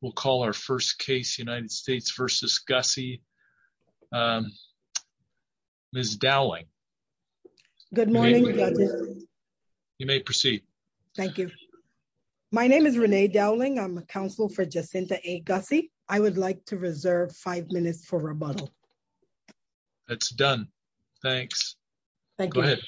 We'll call our first case United States v. Gussie. Ms. Dowling. Good morning, Judge. You may proceed. Thank you. My name is Renee Dowling. I'm a counsel for Jacinta A. Gussie. I would like to reserve five minutes for rebuttal. That's done. Thanks. Thank you. Go ahead.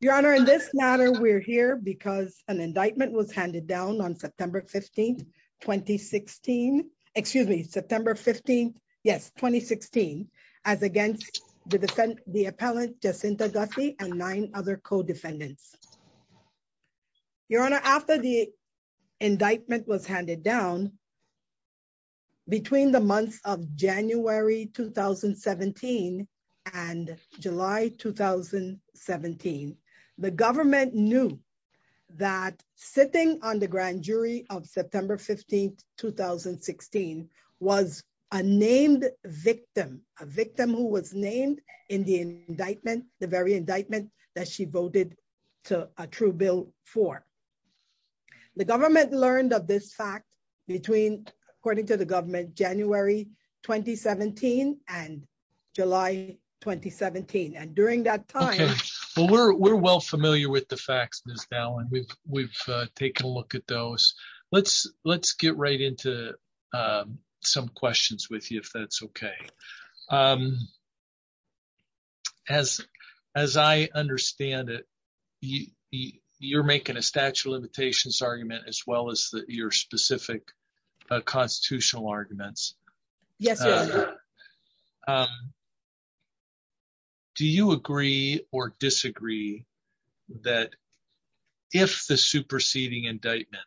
Your Honor in this matter we're here because an indictment was handed down on September 15 2016, excuse me, September 15. Yes, 2016, as against the defendant, the appellant Jacinta Gussie and nine other co defendants. Your Honor after the indictment was handed down. Between the months of January 2017 and July 2017. The government knew that sitting on the grand jury of September 15 2016 was a named victim, a victim who was named in the indictment, the very indictment that she voted to a true bill for the government government learned of this fact, between, according to the government January 2017, and July, 2017 and during that time, we're well familiar with the facts this down and we've, we've taken a look at those. Let's, let's get right into some questions with you if that's okay. As, as I understand it, you, you're making a statute of limitations argument as well as your specific constitutional arguments. Yes. Do you agree or disagree that if the superseding indictment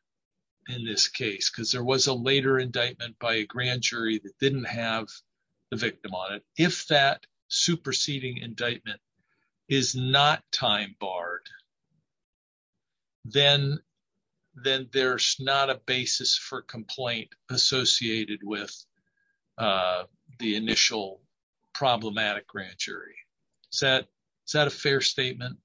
in this case because there was a later indictment by a grand jury that didn't have the victim on it, if that superseding indictment is not time barred. Then, then there's not a basis for complaint associated with the initial problematic grand jury set set a fair statement.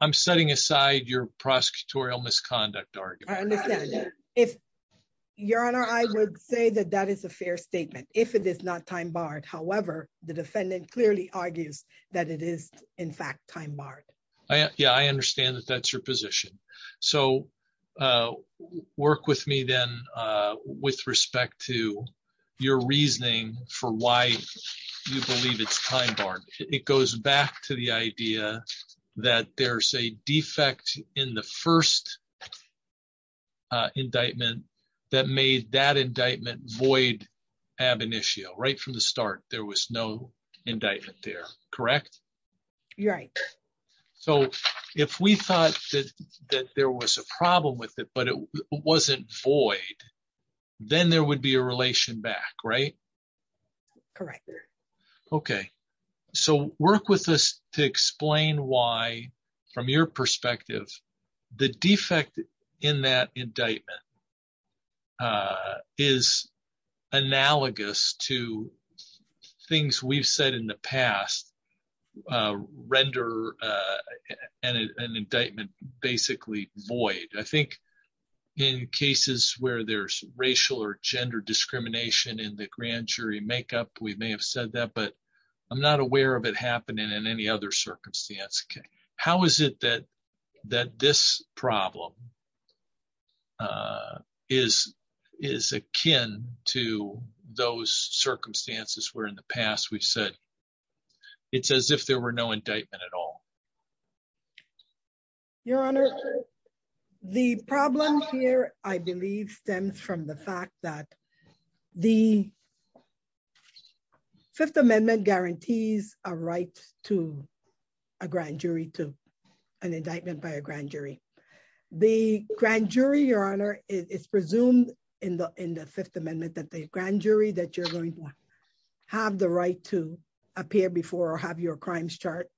I'm setting aside your prosecutorial misconduct argument. If your honor I would say that that is a fair statement, if it is not time barred However, the defendant clearly argues that it is, in fact, time barred. Yeah, I understand that that's your position. So, work with me then, with respect to your reasoning for why you believe it's time barred, it goes back to the idea that there's a defect in the first indictment that made that indictment void ab initio right from the So, if we thought that there was a problem with it but it wasn't void. Then there would be a relation back right. Correct. Okay, so work with us to explain why, from your perspective, the defect in that indictment is analogous to things we've said in the past. render an indictment, basically, void, I think, in cases where there's racial or gender discrimination in the grand jury makeup we may have said that but I'm not aware of it happening in any other circumstance. Okay. How is it that that this problem is, is akin to those circumstances where in the past we've said. It's as if there were no indictment at all. Your Honor. The problem here, I believe, stems from the fact that the Fifth Amendment guarantees a right to a grand jury to an indictment by a grand jury. The grand jury Your Honor is presumed in the, in the Fifth Amendment that the grand jury that you're going to have the right to appear before or have your crimes chart,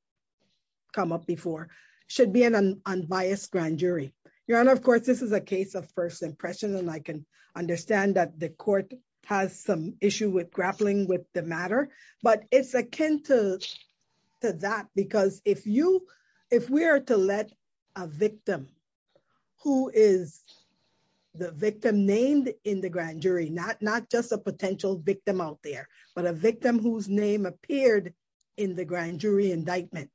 come up before should be an unbiased grand jury. Your Honor, of course, this is a case of first impression and I can understand that the court has some issue with grappling with the matter, but it's akin to that because if you, if we are to let a victim, who is the victim named in the grand jury not not just a potential victim out there, but a victim whose name appeared in the grand jury indictment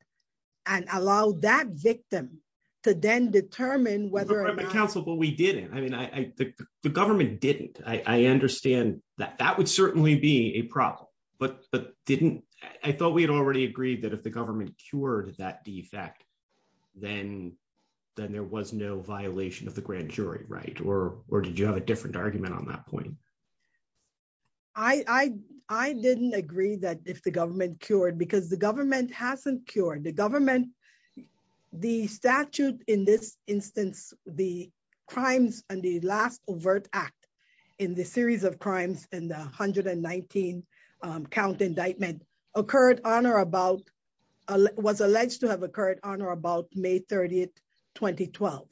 and allow that victim to then determine whether or not counsel but we didn't I mean I think the government didn't, I understand that that would I, I didn't agree that if the government cured because the government hasn't cured the government. The statute in this instance, the crimes, and the last overt act in the series of crimes and 119 count indictment occurred on or about was alleged to have occurred on or about May 30 2012.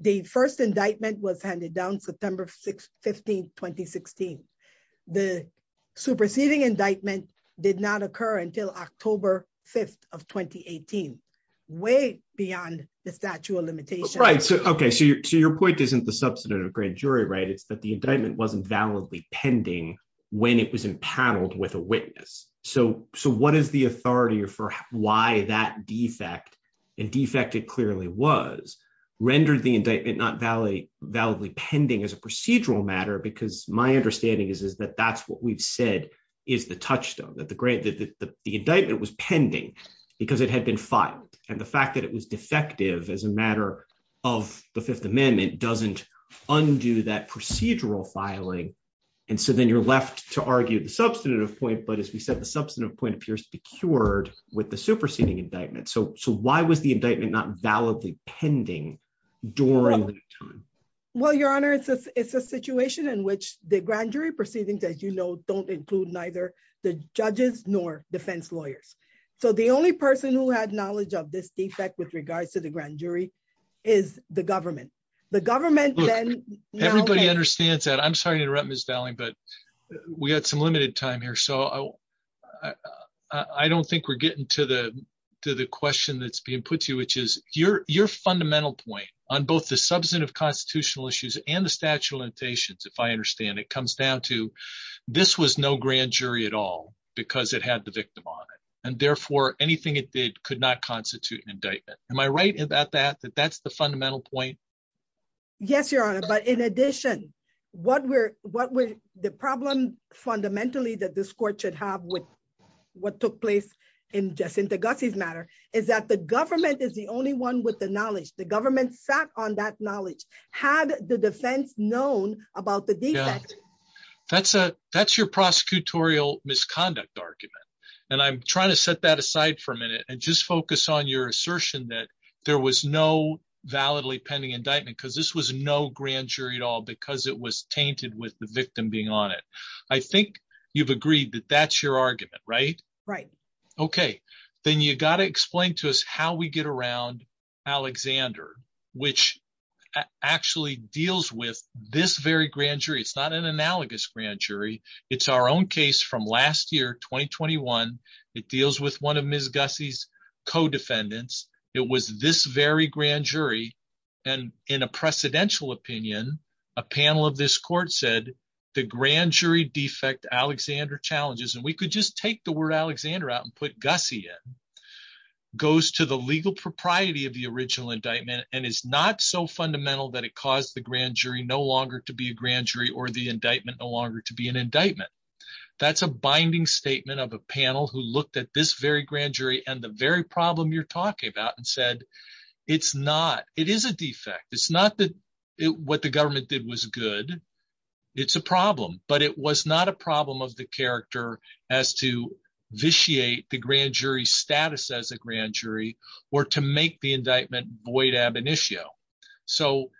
The first indictment was handed down September 6 15 2016. The superseding indictment did not occur until October 5 of 2018 way beyond the statute of limitations. Okay, so your point isn't the substantive grand jury right it's that the indictment wasn't validly pending. When it was in paneled with a witness. So, so what is the authority for why that defect and defected clearly was rendered the indictment not Valley validly pending as a procedural matter because my understanding is is that that's what we've said is the we're left to argue the substantive point but as we said the substantive point appears to be cured with the superseding indictment so so why was the indictment not validly pending during time. Well, Your Honor, it's a situation in which the grand jury proceedings as you know don't include neither the judges nor defense lawyers. So the only person who had knowledge of this defect with regards to the grand jury is the government, the government understands that I'm sorry to interrupt Miss Valley but we had some limited time here so I don't think we're getting to the, to the question that's being put to you, which is your, your fundamental point on both the substantive constitutional issues and the statute of limitations if I understand it comes down to this was no grand jury at all, because it had the victim on it, and therefore, anything it did could not constitute an indictment. Am I right about that that that's the fundamental point. Yes, Your Honor, but in addition, what we're, what we're, the problem, fundamentally that this court should have with what took place in just in the guzzies matter is that the government is the only one with the knowledge the government sat on that knowledge had the defense known about the data. That's a, that's your prosecutorial misconduct argument. And I'm trying to set that aside for a minute and just focus on your assertion that there was no validly pending indictment because this was no grand jury at all because it was tainted with the victim being on it. I think you've agreed that that's your argument right right. Okay, then you got to explain to us how we get around Alexander, which actually deals with this very grand jury it's not an analogous grand jury. It's our own case from last year 2021. It deals with one of Miss gussies co defendants, it was this very grand jury. And in a precedential opinion, a panel of this court said the grand jury defect Alexander challenges and we could just take the word Alexander out goes to the legal propriety of the original indictment, and it's not so fundamental that it caused the grand jury no longer to be a grand jury or the indictment no longer to be an indictment. That's a binding statement of a panel who looked at this very grand jury and the very problem you're talking about and said, it's not, it is a defect it's not that it what the government did was good. It's a problem, but it was not a problem of the character as to vitiate the grand jury status as a grand jury, or to make the indictment void ab initio. So,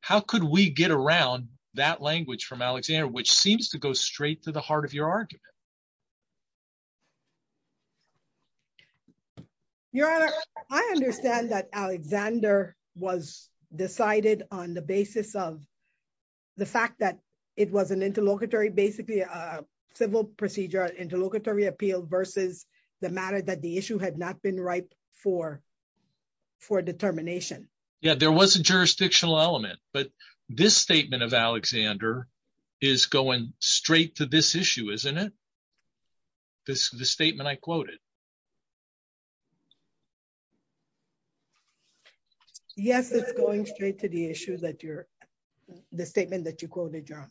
how could we get around that language from Alexander which seems to go straight to the heart of your argument. Your Honor, I understand that Alexander was decided on the basis of the fact that it was an interlocutory basically a civil procedure interlocutory appeal versus the matter that the issue had not been right for for determination. Yeah, there was a jurisdictional element, but this statement of Alexander is going straight to this issue isn't it. This is the statement I quoted. Yes, it's going straight to the issue that you're the statement that you quoted john.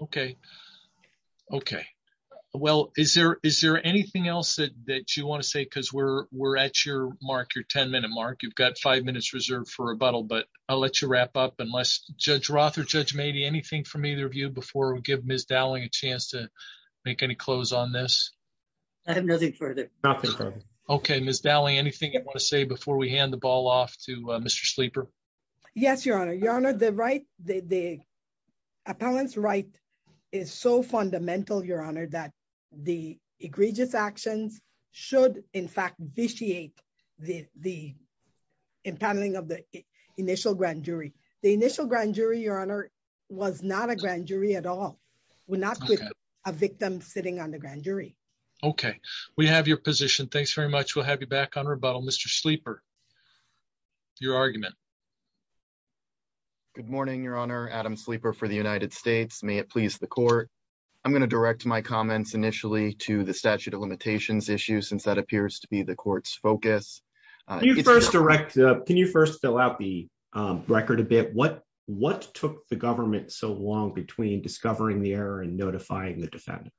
Okay. Okay. Well, is there, is there anything else that you want to say because we're, we're at your mark your 10 minute mark you've got five minutes reserved for rebuttal but I'll let you wrap up unless Judge Roth or Judge maybe anything from either of you before we give Miss Dowling a chance to make any close on this. I have nothing further. Okay, Miss Daly anything you want to say before we hand the ball off to Mr sleeper. Yes, Your Honor, Your Honor, the right, the appellants right is so fundamental Your Honor that the egregious actions should in fact vitiate the, the impounding of the initial grand jury, the initial grand jury Your Honor, was not a grand jury at all. We're not a victim sitting on the grand jury. Okay, we have your position. Thanks very much. We'll have you back on rebuttal Mr sleeper. Your argument. Good morning, Your Honor Adam sleeper for the United States may it please the court. I'm going to direct my comments initially to the statute of limitations issue since that appears to be the court's focus. First direct. Can you first fill out the record a bit what what took the government so long between discovering the error and notifying the defendant.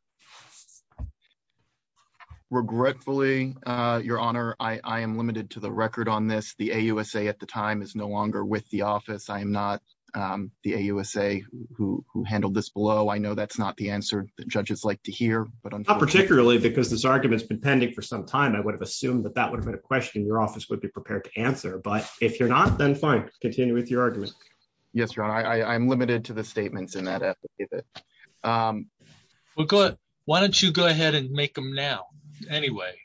Regretfully, Your Honor, I am limited to the record on this the USA at the time is no longer with the office I'm not the USA, who handled this below I know that's not the answer that judges like to hear, but I'm not particularly because this argument has been pending for some time I would have assumed that that would have been a question your office would be prepared to answer but if you're not then fine, continue with your argument. Yes, Your Honor, I am limited to the statements in that. Good. Why don't you go ahead and make them now. Anyway,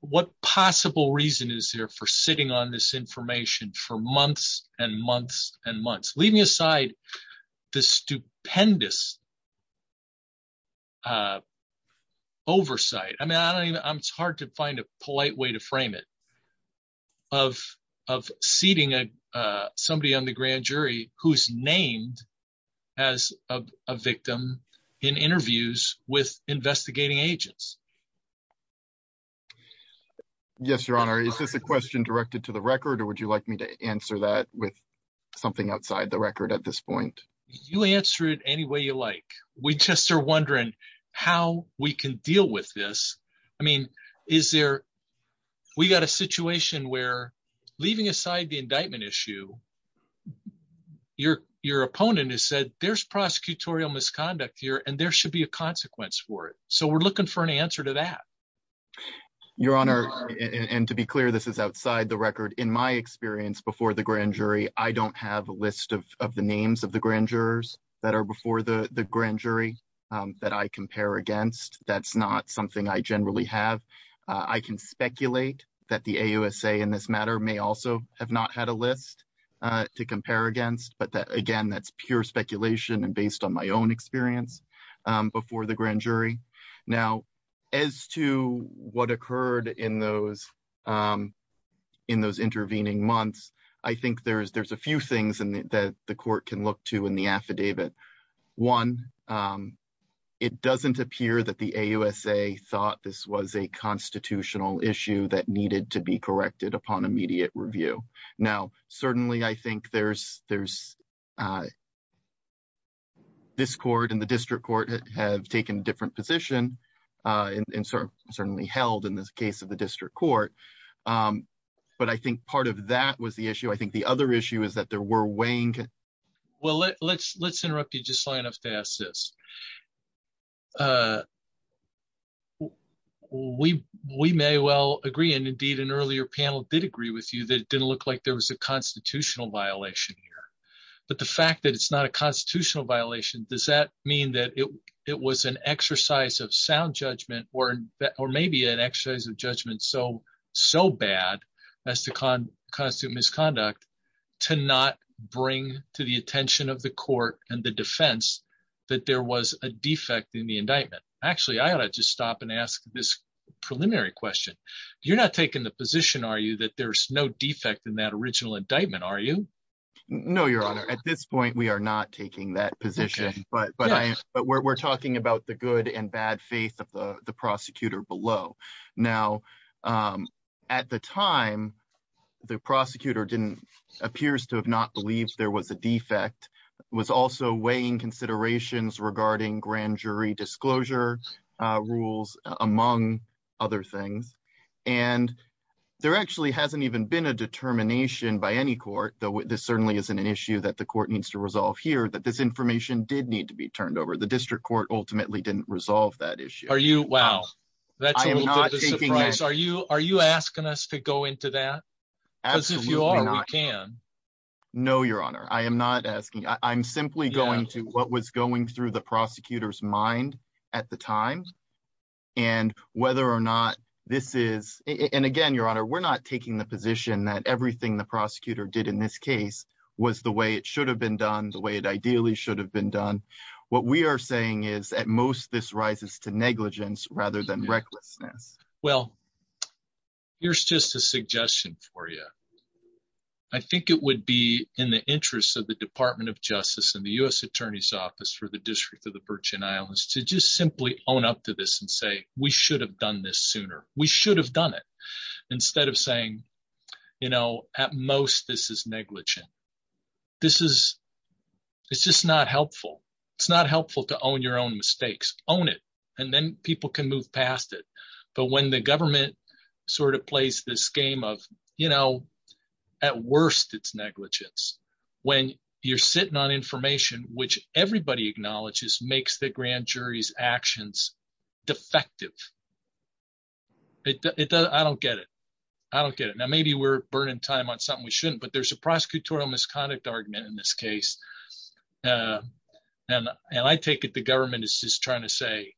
what possible reason is there for sitting on this information for months and months and months, leaving aside the stupendous oversight, I mean I don't even it's hard to find a polite way to frame it of, of seating. Somebody on the grand jury, who's named as a victim in interviews with investigating agents. Yes, Your Honor. Is this a question directed to the record or would you like me to answer that with something outside the record at this point, you answer it any way you like, we just are wondering how we can deal with this. I mean, is there. We got a situation where, leaving aside the indictment issue, your, your opponent has said there's prosecutorial misconduct here and there should be a consequence for it. So we're looking for an answer to that. Your Honor, and to be clear this is outside the record in my experience before the grand jury, I don't have a list of the names of the grand jurors that are before the grand jury that I compare against, that's not something I generally have. I can speculate that the USA in this matter may also have not had a list to compare against but that again that's pure speculation and based on my own experience before the grand jury. Now, as to what occurred in those, in those intervening months. I think there's there's a few things and that the court can look to in the affidavit. One. It doesn't appear that the USA thought this was a constitutional issue that needed to be corrected upon immediate review. Now, certainly I think there's there's this court in the district court have taken a different position in sort of certainly held in this case of the district court. But I think part of that was the issue I think the other issue is that there were weighing. Well, let's let's interrupt you just enough to assist. We, we may well agree and indeed an earlier panel did agree with you that didn't look like there was a constitutional violation here. But the fact that it's not a constitutional violation. Does that mean that it, it was an exercise of sound judgment or, or maybe an exercise of judgment so so bad as to con constitute misconduct to not bring to the attention of the court and the defense that there was a defect in the indictment. Actually, I gotta just stop and ask this preliminary question. You're not taking the position are you that there's no defect in that original indictment are you know your honor at this point we are not taking that position, but but I, but we're talking about the good and bad faith of the prosecutor below. Now, at the time, the prosecutor didn't appears to have not believed there was a defect was also weighing considerations regarding grand jury disclosure rules, among other things. And there actually hasn't even been a determination by any court, though this certainly isn't an issue that the court needs to resolve here that this information did need to be turned over the district court ultimately didn't resolve that issue. Are you Wow. Are you are you asking us to go into that. No, Your Honor, I am not asking I'm simply going to what was going through the prosecutors mind at the time. And whether or not this is, and again Your Honor we're not taking the position that everything the prosecutor did in this case was the way it should have been done the way it ideally should have been done. What we are saying is at most this rises to negligence, rather than recklessness. Well, here's just a suggestion for you. I think it would be in the interest of the Department of Justice and the US Attorney's Office for the District of the Virgin Islands to just simply own up to this and say, we should have done this sooner, we should have done it. Instead of saying, you know, at most this is negligent. This is, it's just not helpful. It's not helpful to own your own mistakes, own it, and then people can move past it. But when the government sort of plays this game of, you know, at worst it's negligence. When you're sitting on information which everybody acknowledges makes the grand jury's actions defective. I don't get it. I don't get it now maybe we're burning time on something we shouldn't but there's a prosecutorial misconduct argument in this case. And, and I take it the government is just trying to say,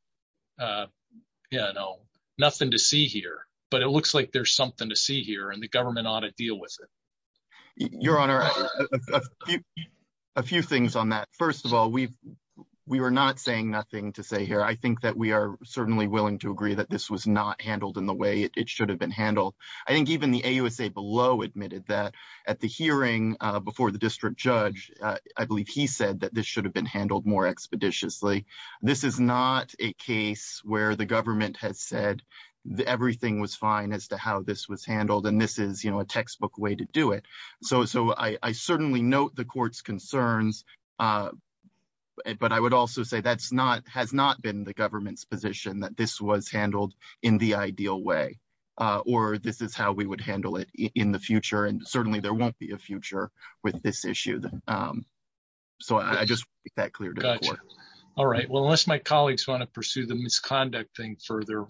you know, nothing to see here, but it looks like there's something to see here and the government ought to deal with it. A few things on that. First of all, we've, we were not saying nothing to say here I think that we are certainly willing to agree that this was not handled in the way it should have been handled. I think even the AUSA below admitted that at the hearing before the district judge. I believe he said that this should have been handled more expeditiously. This is not a case where the government has said that everything was fine as to how this was handled and this is you know a textbook way to do it. So so I certainly note the court's concerns. But I would also say that's not has not been the government's position that this was handled in the ideal way, or this is how we would handle it in the future and certainly there won't be a future with this issue. So I just got cleared. All right, well, unless my colleagues want to pursue the misconduct thing further.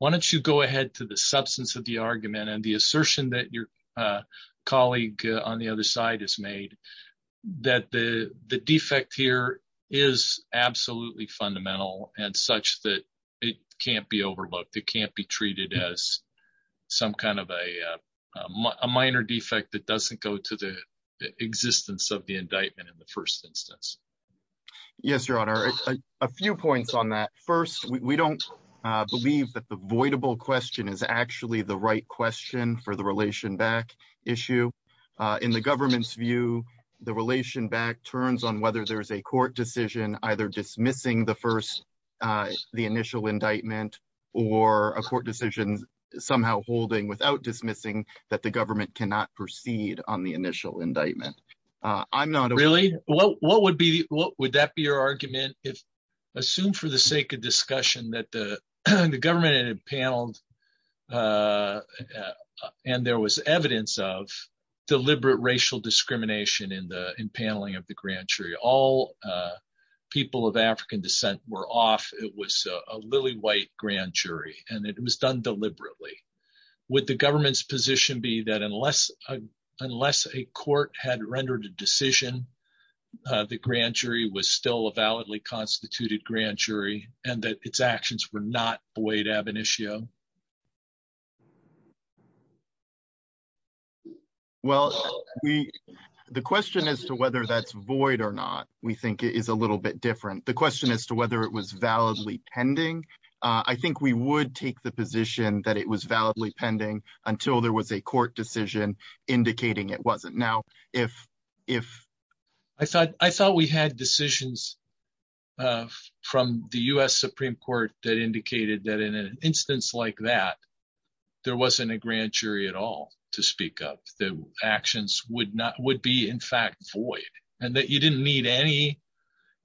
Why don't you go ahead to the substance of the argument and the assertion that your colleague on the other side has made that the, the defect here is absolutely fundamental, and such that it can't be overlooked, it can't be treated as some kind of a minor defect that doesn't go to the existence of the argument. Yes, Your Honor, a few points on that. First, we don't believe that the avoidable question is actually the right question for the relation back issue in the government's view, the relation back turns on whether there's a court decision, either dismissing the first, the initial indictment, or a court decision, somehow holding without dismissing that the government cannot proceed on the initial indictment. I'm not really, what would be, what would that be your argument if assume for the sake of discussion that the government and impaneled. And there was evidence of deliberate racial discrimination in the impaneling of the grand jury all people of African descent were off, it was a lily white grand jury, and it was done deliberately with the government's position be that unless unless a court had rendered a decision. The grand jury was still a validly constituted grand jury, and that its actions were not the way to have an issue. Well, we, the question as to whether that's void or not, we think it is a little bit different. The question as to whether it was validly pending. I think we would take the position that it was validly pending until there was a court decision, indicating it wasn't now, if, if I thought, I thought we had decisions from the US Supreme Court that indicated that in an instance, like that, there wasn't a grand jury at all to speak of the actions would not would be in fact void, and that you didn't need any.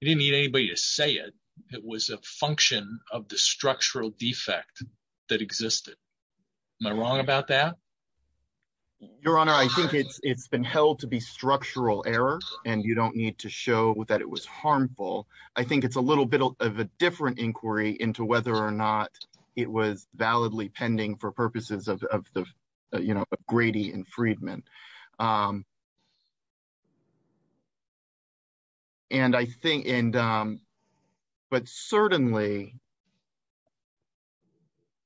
You didn't need anybody to say it. It was a function of the structural defect that existed. My wrong about that. Your Honor, I think it's it's been held to be structural error, and you don't need to show that it was harmful. I think it's a little bit of a different inquiry into whether or not it was validly pending for purposes of the, you know, Grady and Friedman. And I think and. But certainly,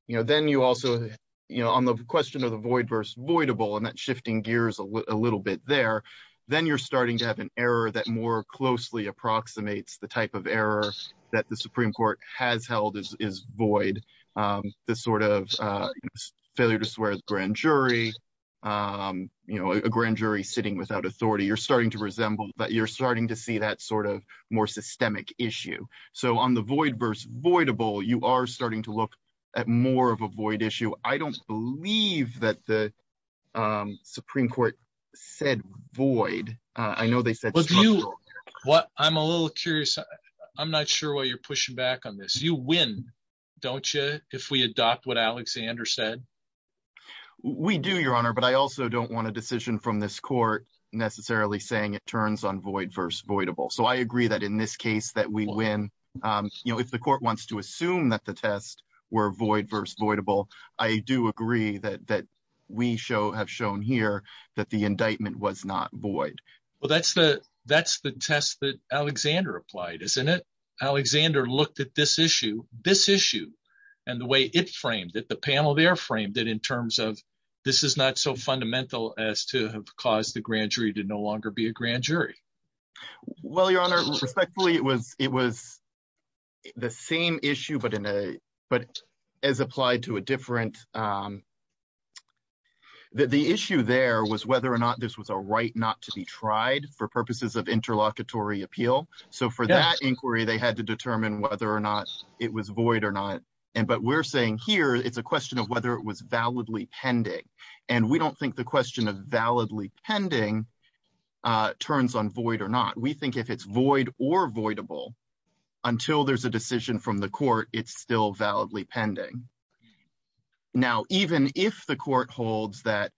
you know, then you also, you know, on the question of the void verse voidable and that shifting gears a little bit there, then you're starting to have an error that more closely approximates the type of error that the Supreme Court has held is void. The sort of failure to swear the grand jury. You know, a grand jury sitting without authority, you're starting to resemble that you're starting to see that sort of more systemic issue. So on the void verse voidable you are starting to look at more of a void issue. I don't believe that the Supreme Court said void. I know they said. What I'm a little curious. I'm not sure what you're pushing back on this you win. Don't you, if we adopt what Alexander said. We do, Your Honor, but I also don't want a decision from this court necessarily saying it turns on void verse voidable. So I agree that in this case that we win. You know, if the court wants to assume that the test were void verse voidable. I do agree that that we show have shown here that the indictment was not void. Well, that's the that's the test that Alexander applied isn't it Alexander looked at this issue, this issue, and the way it framed that the panel there frame that in terms of this is not so fundamental as to have caused the grand jury to no longer be a grand jury. Well, Your Honor respectfully it was it was the same issue but in a, but as applied to a different. The issue there was whether or not this was a right not to be tried for purposes of interlocutory appeal. So for that inquiry they had to determine whether or not it was void or not. And but we're saying here, it's a question of whether it was validly pending and we don't think the question of validly pending turns on void or not. We think if it's void or voidable until there's a decision from the court, it's still validly pending. Now, even if the court holds that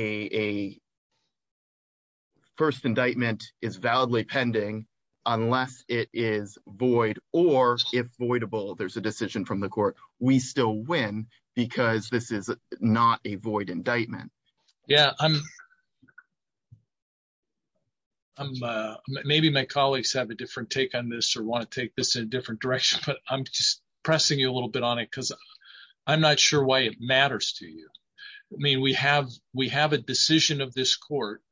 a First indictment is validly pending, unless it is void, or if voidable there's a decision from the court, we still win, because this is not a void indictment. Yeah, I'm, I'm, maybe my colleagues have a different take on this or want to take this in a different direction, but I'm just pressing you a little bit on it because I'm not sure why it matters to you. I mean, we have, we have a decision of this court,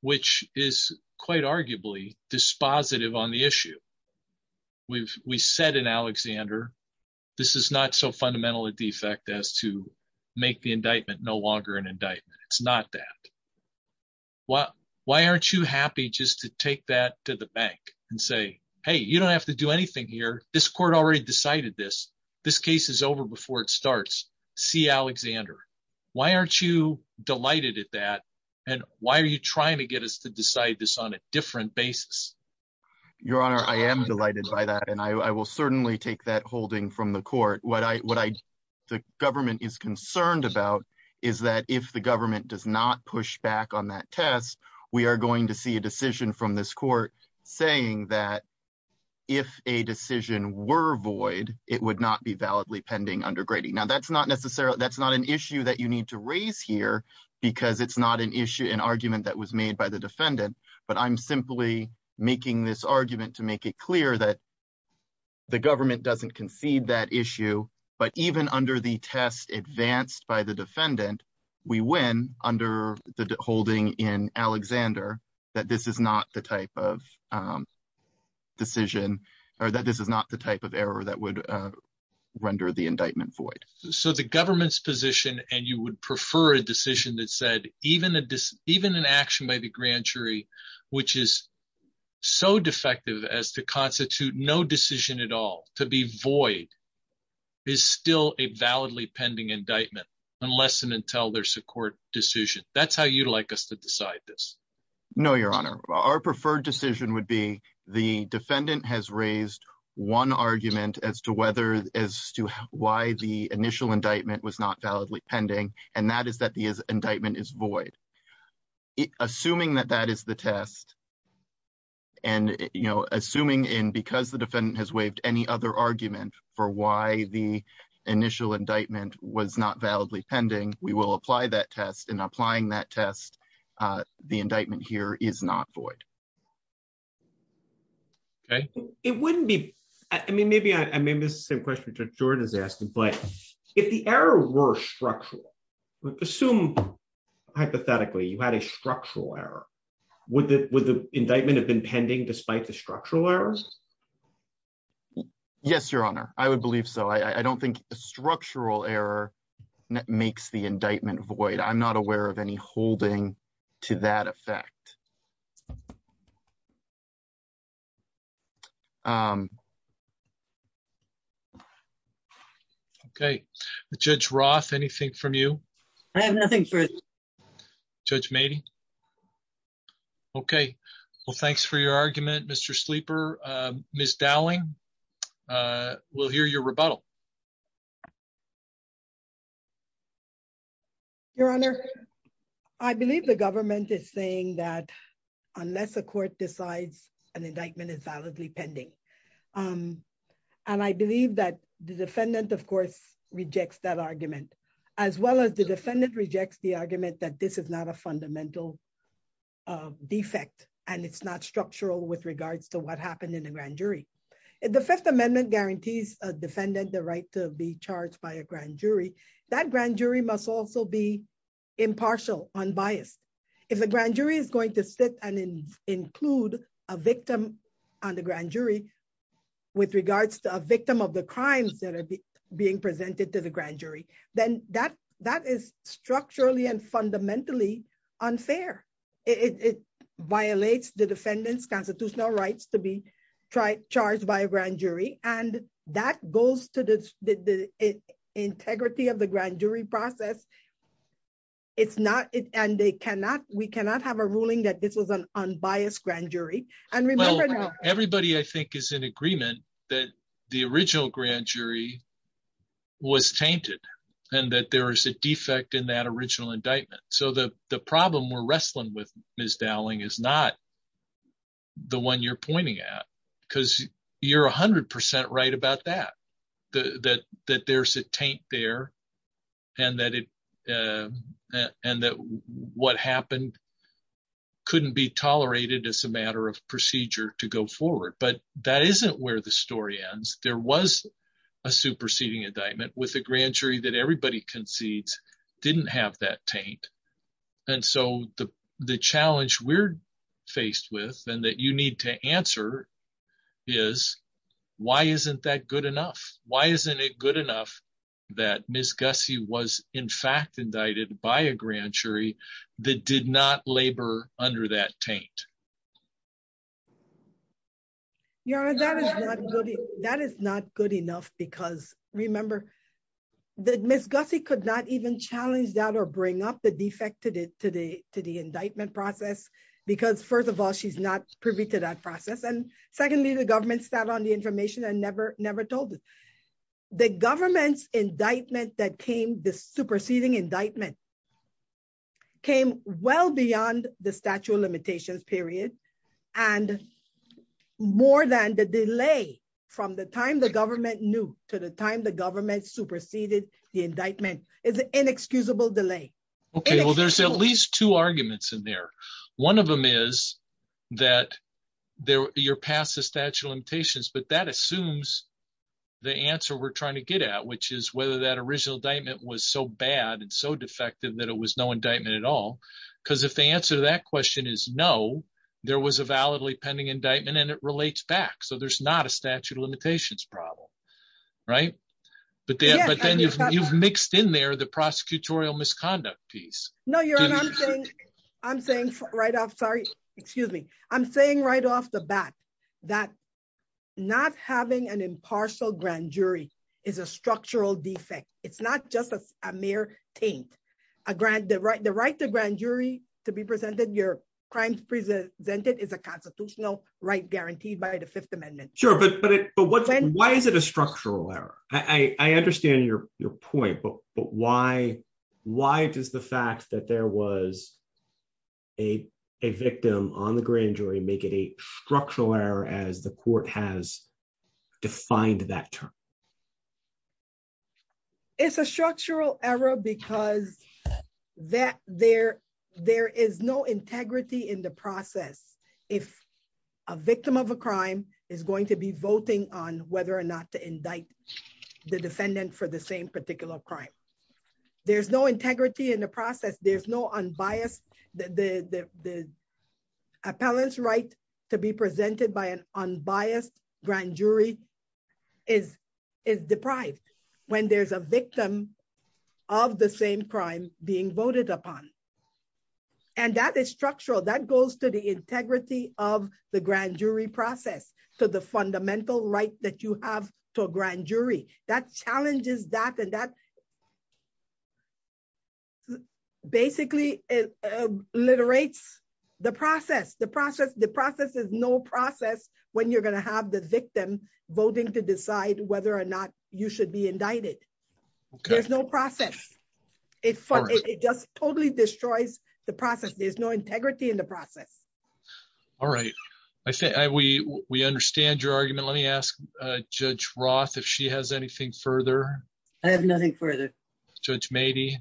which is quite arguably dispositive on the issue. We've, we said in Alexander. This is not so fundamental a defect as to make the indictment no longer an indictment. It's not that. Well, why aren't you happy just to take that to the bank and say, hey, you don't have to do anything here, this court already decided this, this case is over before it starts. See Alexander. Why aren't you delighted at that. And why are you trying to get us to decide this on a different basis. Your Honor, I am delighted by that and I will certainly take that holding from the court what I what I, the government is concerned about is that if the government does not push back on that test. We are going to see a decision from this court, saying that if a decision were void, it would not be validly pending undergrading now that's not necessarily that's not an issue that you need to raise here, because it's not an issue an argument that was made by the defendant, but I'm simply making this argument to make it clear that the government doesn't concede that issue, but even under the test advanced by the defendant. We win under the holding in Alexander, that this is not the type of decision, or that this is not the type of error that would render the indictment void. So the government's position and you would prefer a decision that said, even a, even an action by the grand jury, which is so defective as to constitute no decision at all to be void is still a validly pending indictment, unless and until their support decision, that's how you'd like us to decide this. No, Your Honor, our preferred decision would be the defendant has raised one argument as to whether as to why the initial indictment was not validly pending, and that is that the indictment is void, assuming that that is the test. And, you know, assuming in because the defendant has waived any other argument for why the initial indictment was not validly pending, we will apply that test and applying that test. The indictment here is not void. Okay, it wouldn't be. I mean maybe I may miss the same question Jordan is asking, but if the error were structural assume hypothetically you had a structural error with it with the indictment have been pending despite the structural errors. Yes, Your Honor, I would believe so I don't think structural error. That makes the indictment void I'm not aware of any holding to that effect. Okay, Judge Roth anything from you. I have nothing for. Judge made. Okay, well thanks for your argument Mr sleeper, Miss Dowling. We'll hear your rebuttal. Your Honor. I believe the government is saying that unless the court decides an indictment is validly pending. And I believe that the defendant of course rejects that argument, as well as the defendant rejects the argument that this is not a fundamental defect, and it's not structural with regards to what happened in the grand jury. The Fifth Amendment guarantees a defendant the right to be charged by a grand jury that grand jury must also be impartial unbiased. If the grand jury is going to sit and include a victim on the grand jury. With regards to a victim of the crimes that are being presented to the grand jury, then that that is structurally and fundamentally unfair. It violates the defendant's constitutional rights to be tried charged by a grand jury, and that goes to the integrity of the grand jury process. It's not it and they cannot, we cannot have a ruling that this was an unbiased grand jury, and everybody I think is in agreement that the original grand jury was tainted, and that there is a defect in that original indictment so that the problem we're wrestling with Miss Dowling is not the one you're pointing out, because you're 100% right about that, that, that there's a tank there. And that it. And that what happened. Couldn't be tolerated as a matter of procedure to go forward but that isn't where the story ends, there was a superseding indictment with the grand jury that everybody concedes didn't have that taint. And so the, the challenge we're faced with, and that you need to answer is, why isn't that good enough, why isn't it good enough that Miss Gussie was in fact indicted by a grand jury that did not labor under that taint. Yeah, that is not good. That is not good enough because remember that Miss Gussie could not even challenge that or bring up the defected it today to the indictment process, because first of all she's not privy to that process and secondly the government sat on the information and never, never told the government's indictment that came the superseding indictment came well beyond the statute of limitations period. And more than the delay from the time the government new to the time the government superseded the indictment is inexcusable delay. Okay, well there's at least two arguments in there. One of them is that there, you're past the statute of limitations but that assumes the answer we're trying to get at which is whether that original diamond was so bad and so defective that it was no indictment at all, because if the answer to that question is no, there was a validly pending indictment and it relates back so there's not a statute of limitations problem. Right. But then you've mixed in there the prosecutorial misconduct piece. No, you're not. I'm saying right off sorry, excuse me, I'm saying right off the bat, that not having an impartial grand jury is a structural defect. It's not just a mere taint a grant the right the right to grand jury to be presented your crimes presented is a constitutional right guaranteed by the Fifth Amendment. Sure, but, but what, why is it a structural error, I understand your, your point but but why, why does the fact that there was a victim on the grand jury make it a structural error as the court has defined that term. It's a structural error because that there, there is no integrity in the process. If a victim of a crime is going to be voting on whether or not to indict the defendant for the same particular crime. There's no integrity in the process there's no unbiased, the appellants right to be presented by an unbiased grand jury is is deprived. When there's a victim of the same crime being voted upon. And that is structural that goes to the integrity of the grand jury process to the fundamental right that you have to a grand jury that challenges that and that process. Basically, it literates the process the process the process is no process, when you're going to have the victim voting to decide whether or not you should be indicted. There's no process. It just totally destroys the process there's no integrity in the process. All right. I think we, we understand your argument let me ask Judge Roth if she has anything further. I have nothing further. Judge maybe.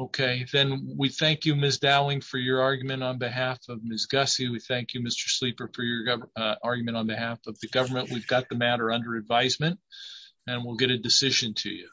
Okay, then we thank you Miss Dowling for your argument on behalf of Miss Gussie we thank you Mr sleeper for your argument on behalf of the government we've got the matter under advisement, and we'll get a decision to you.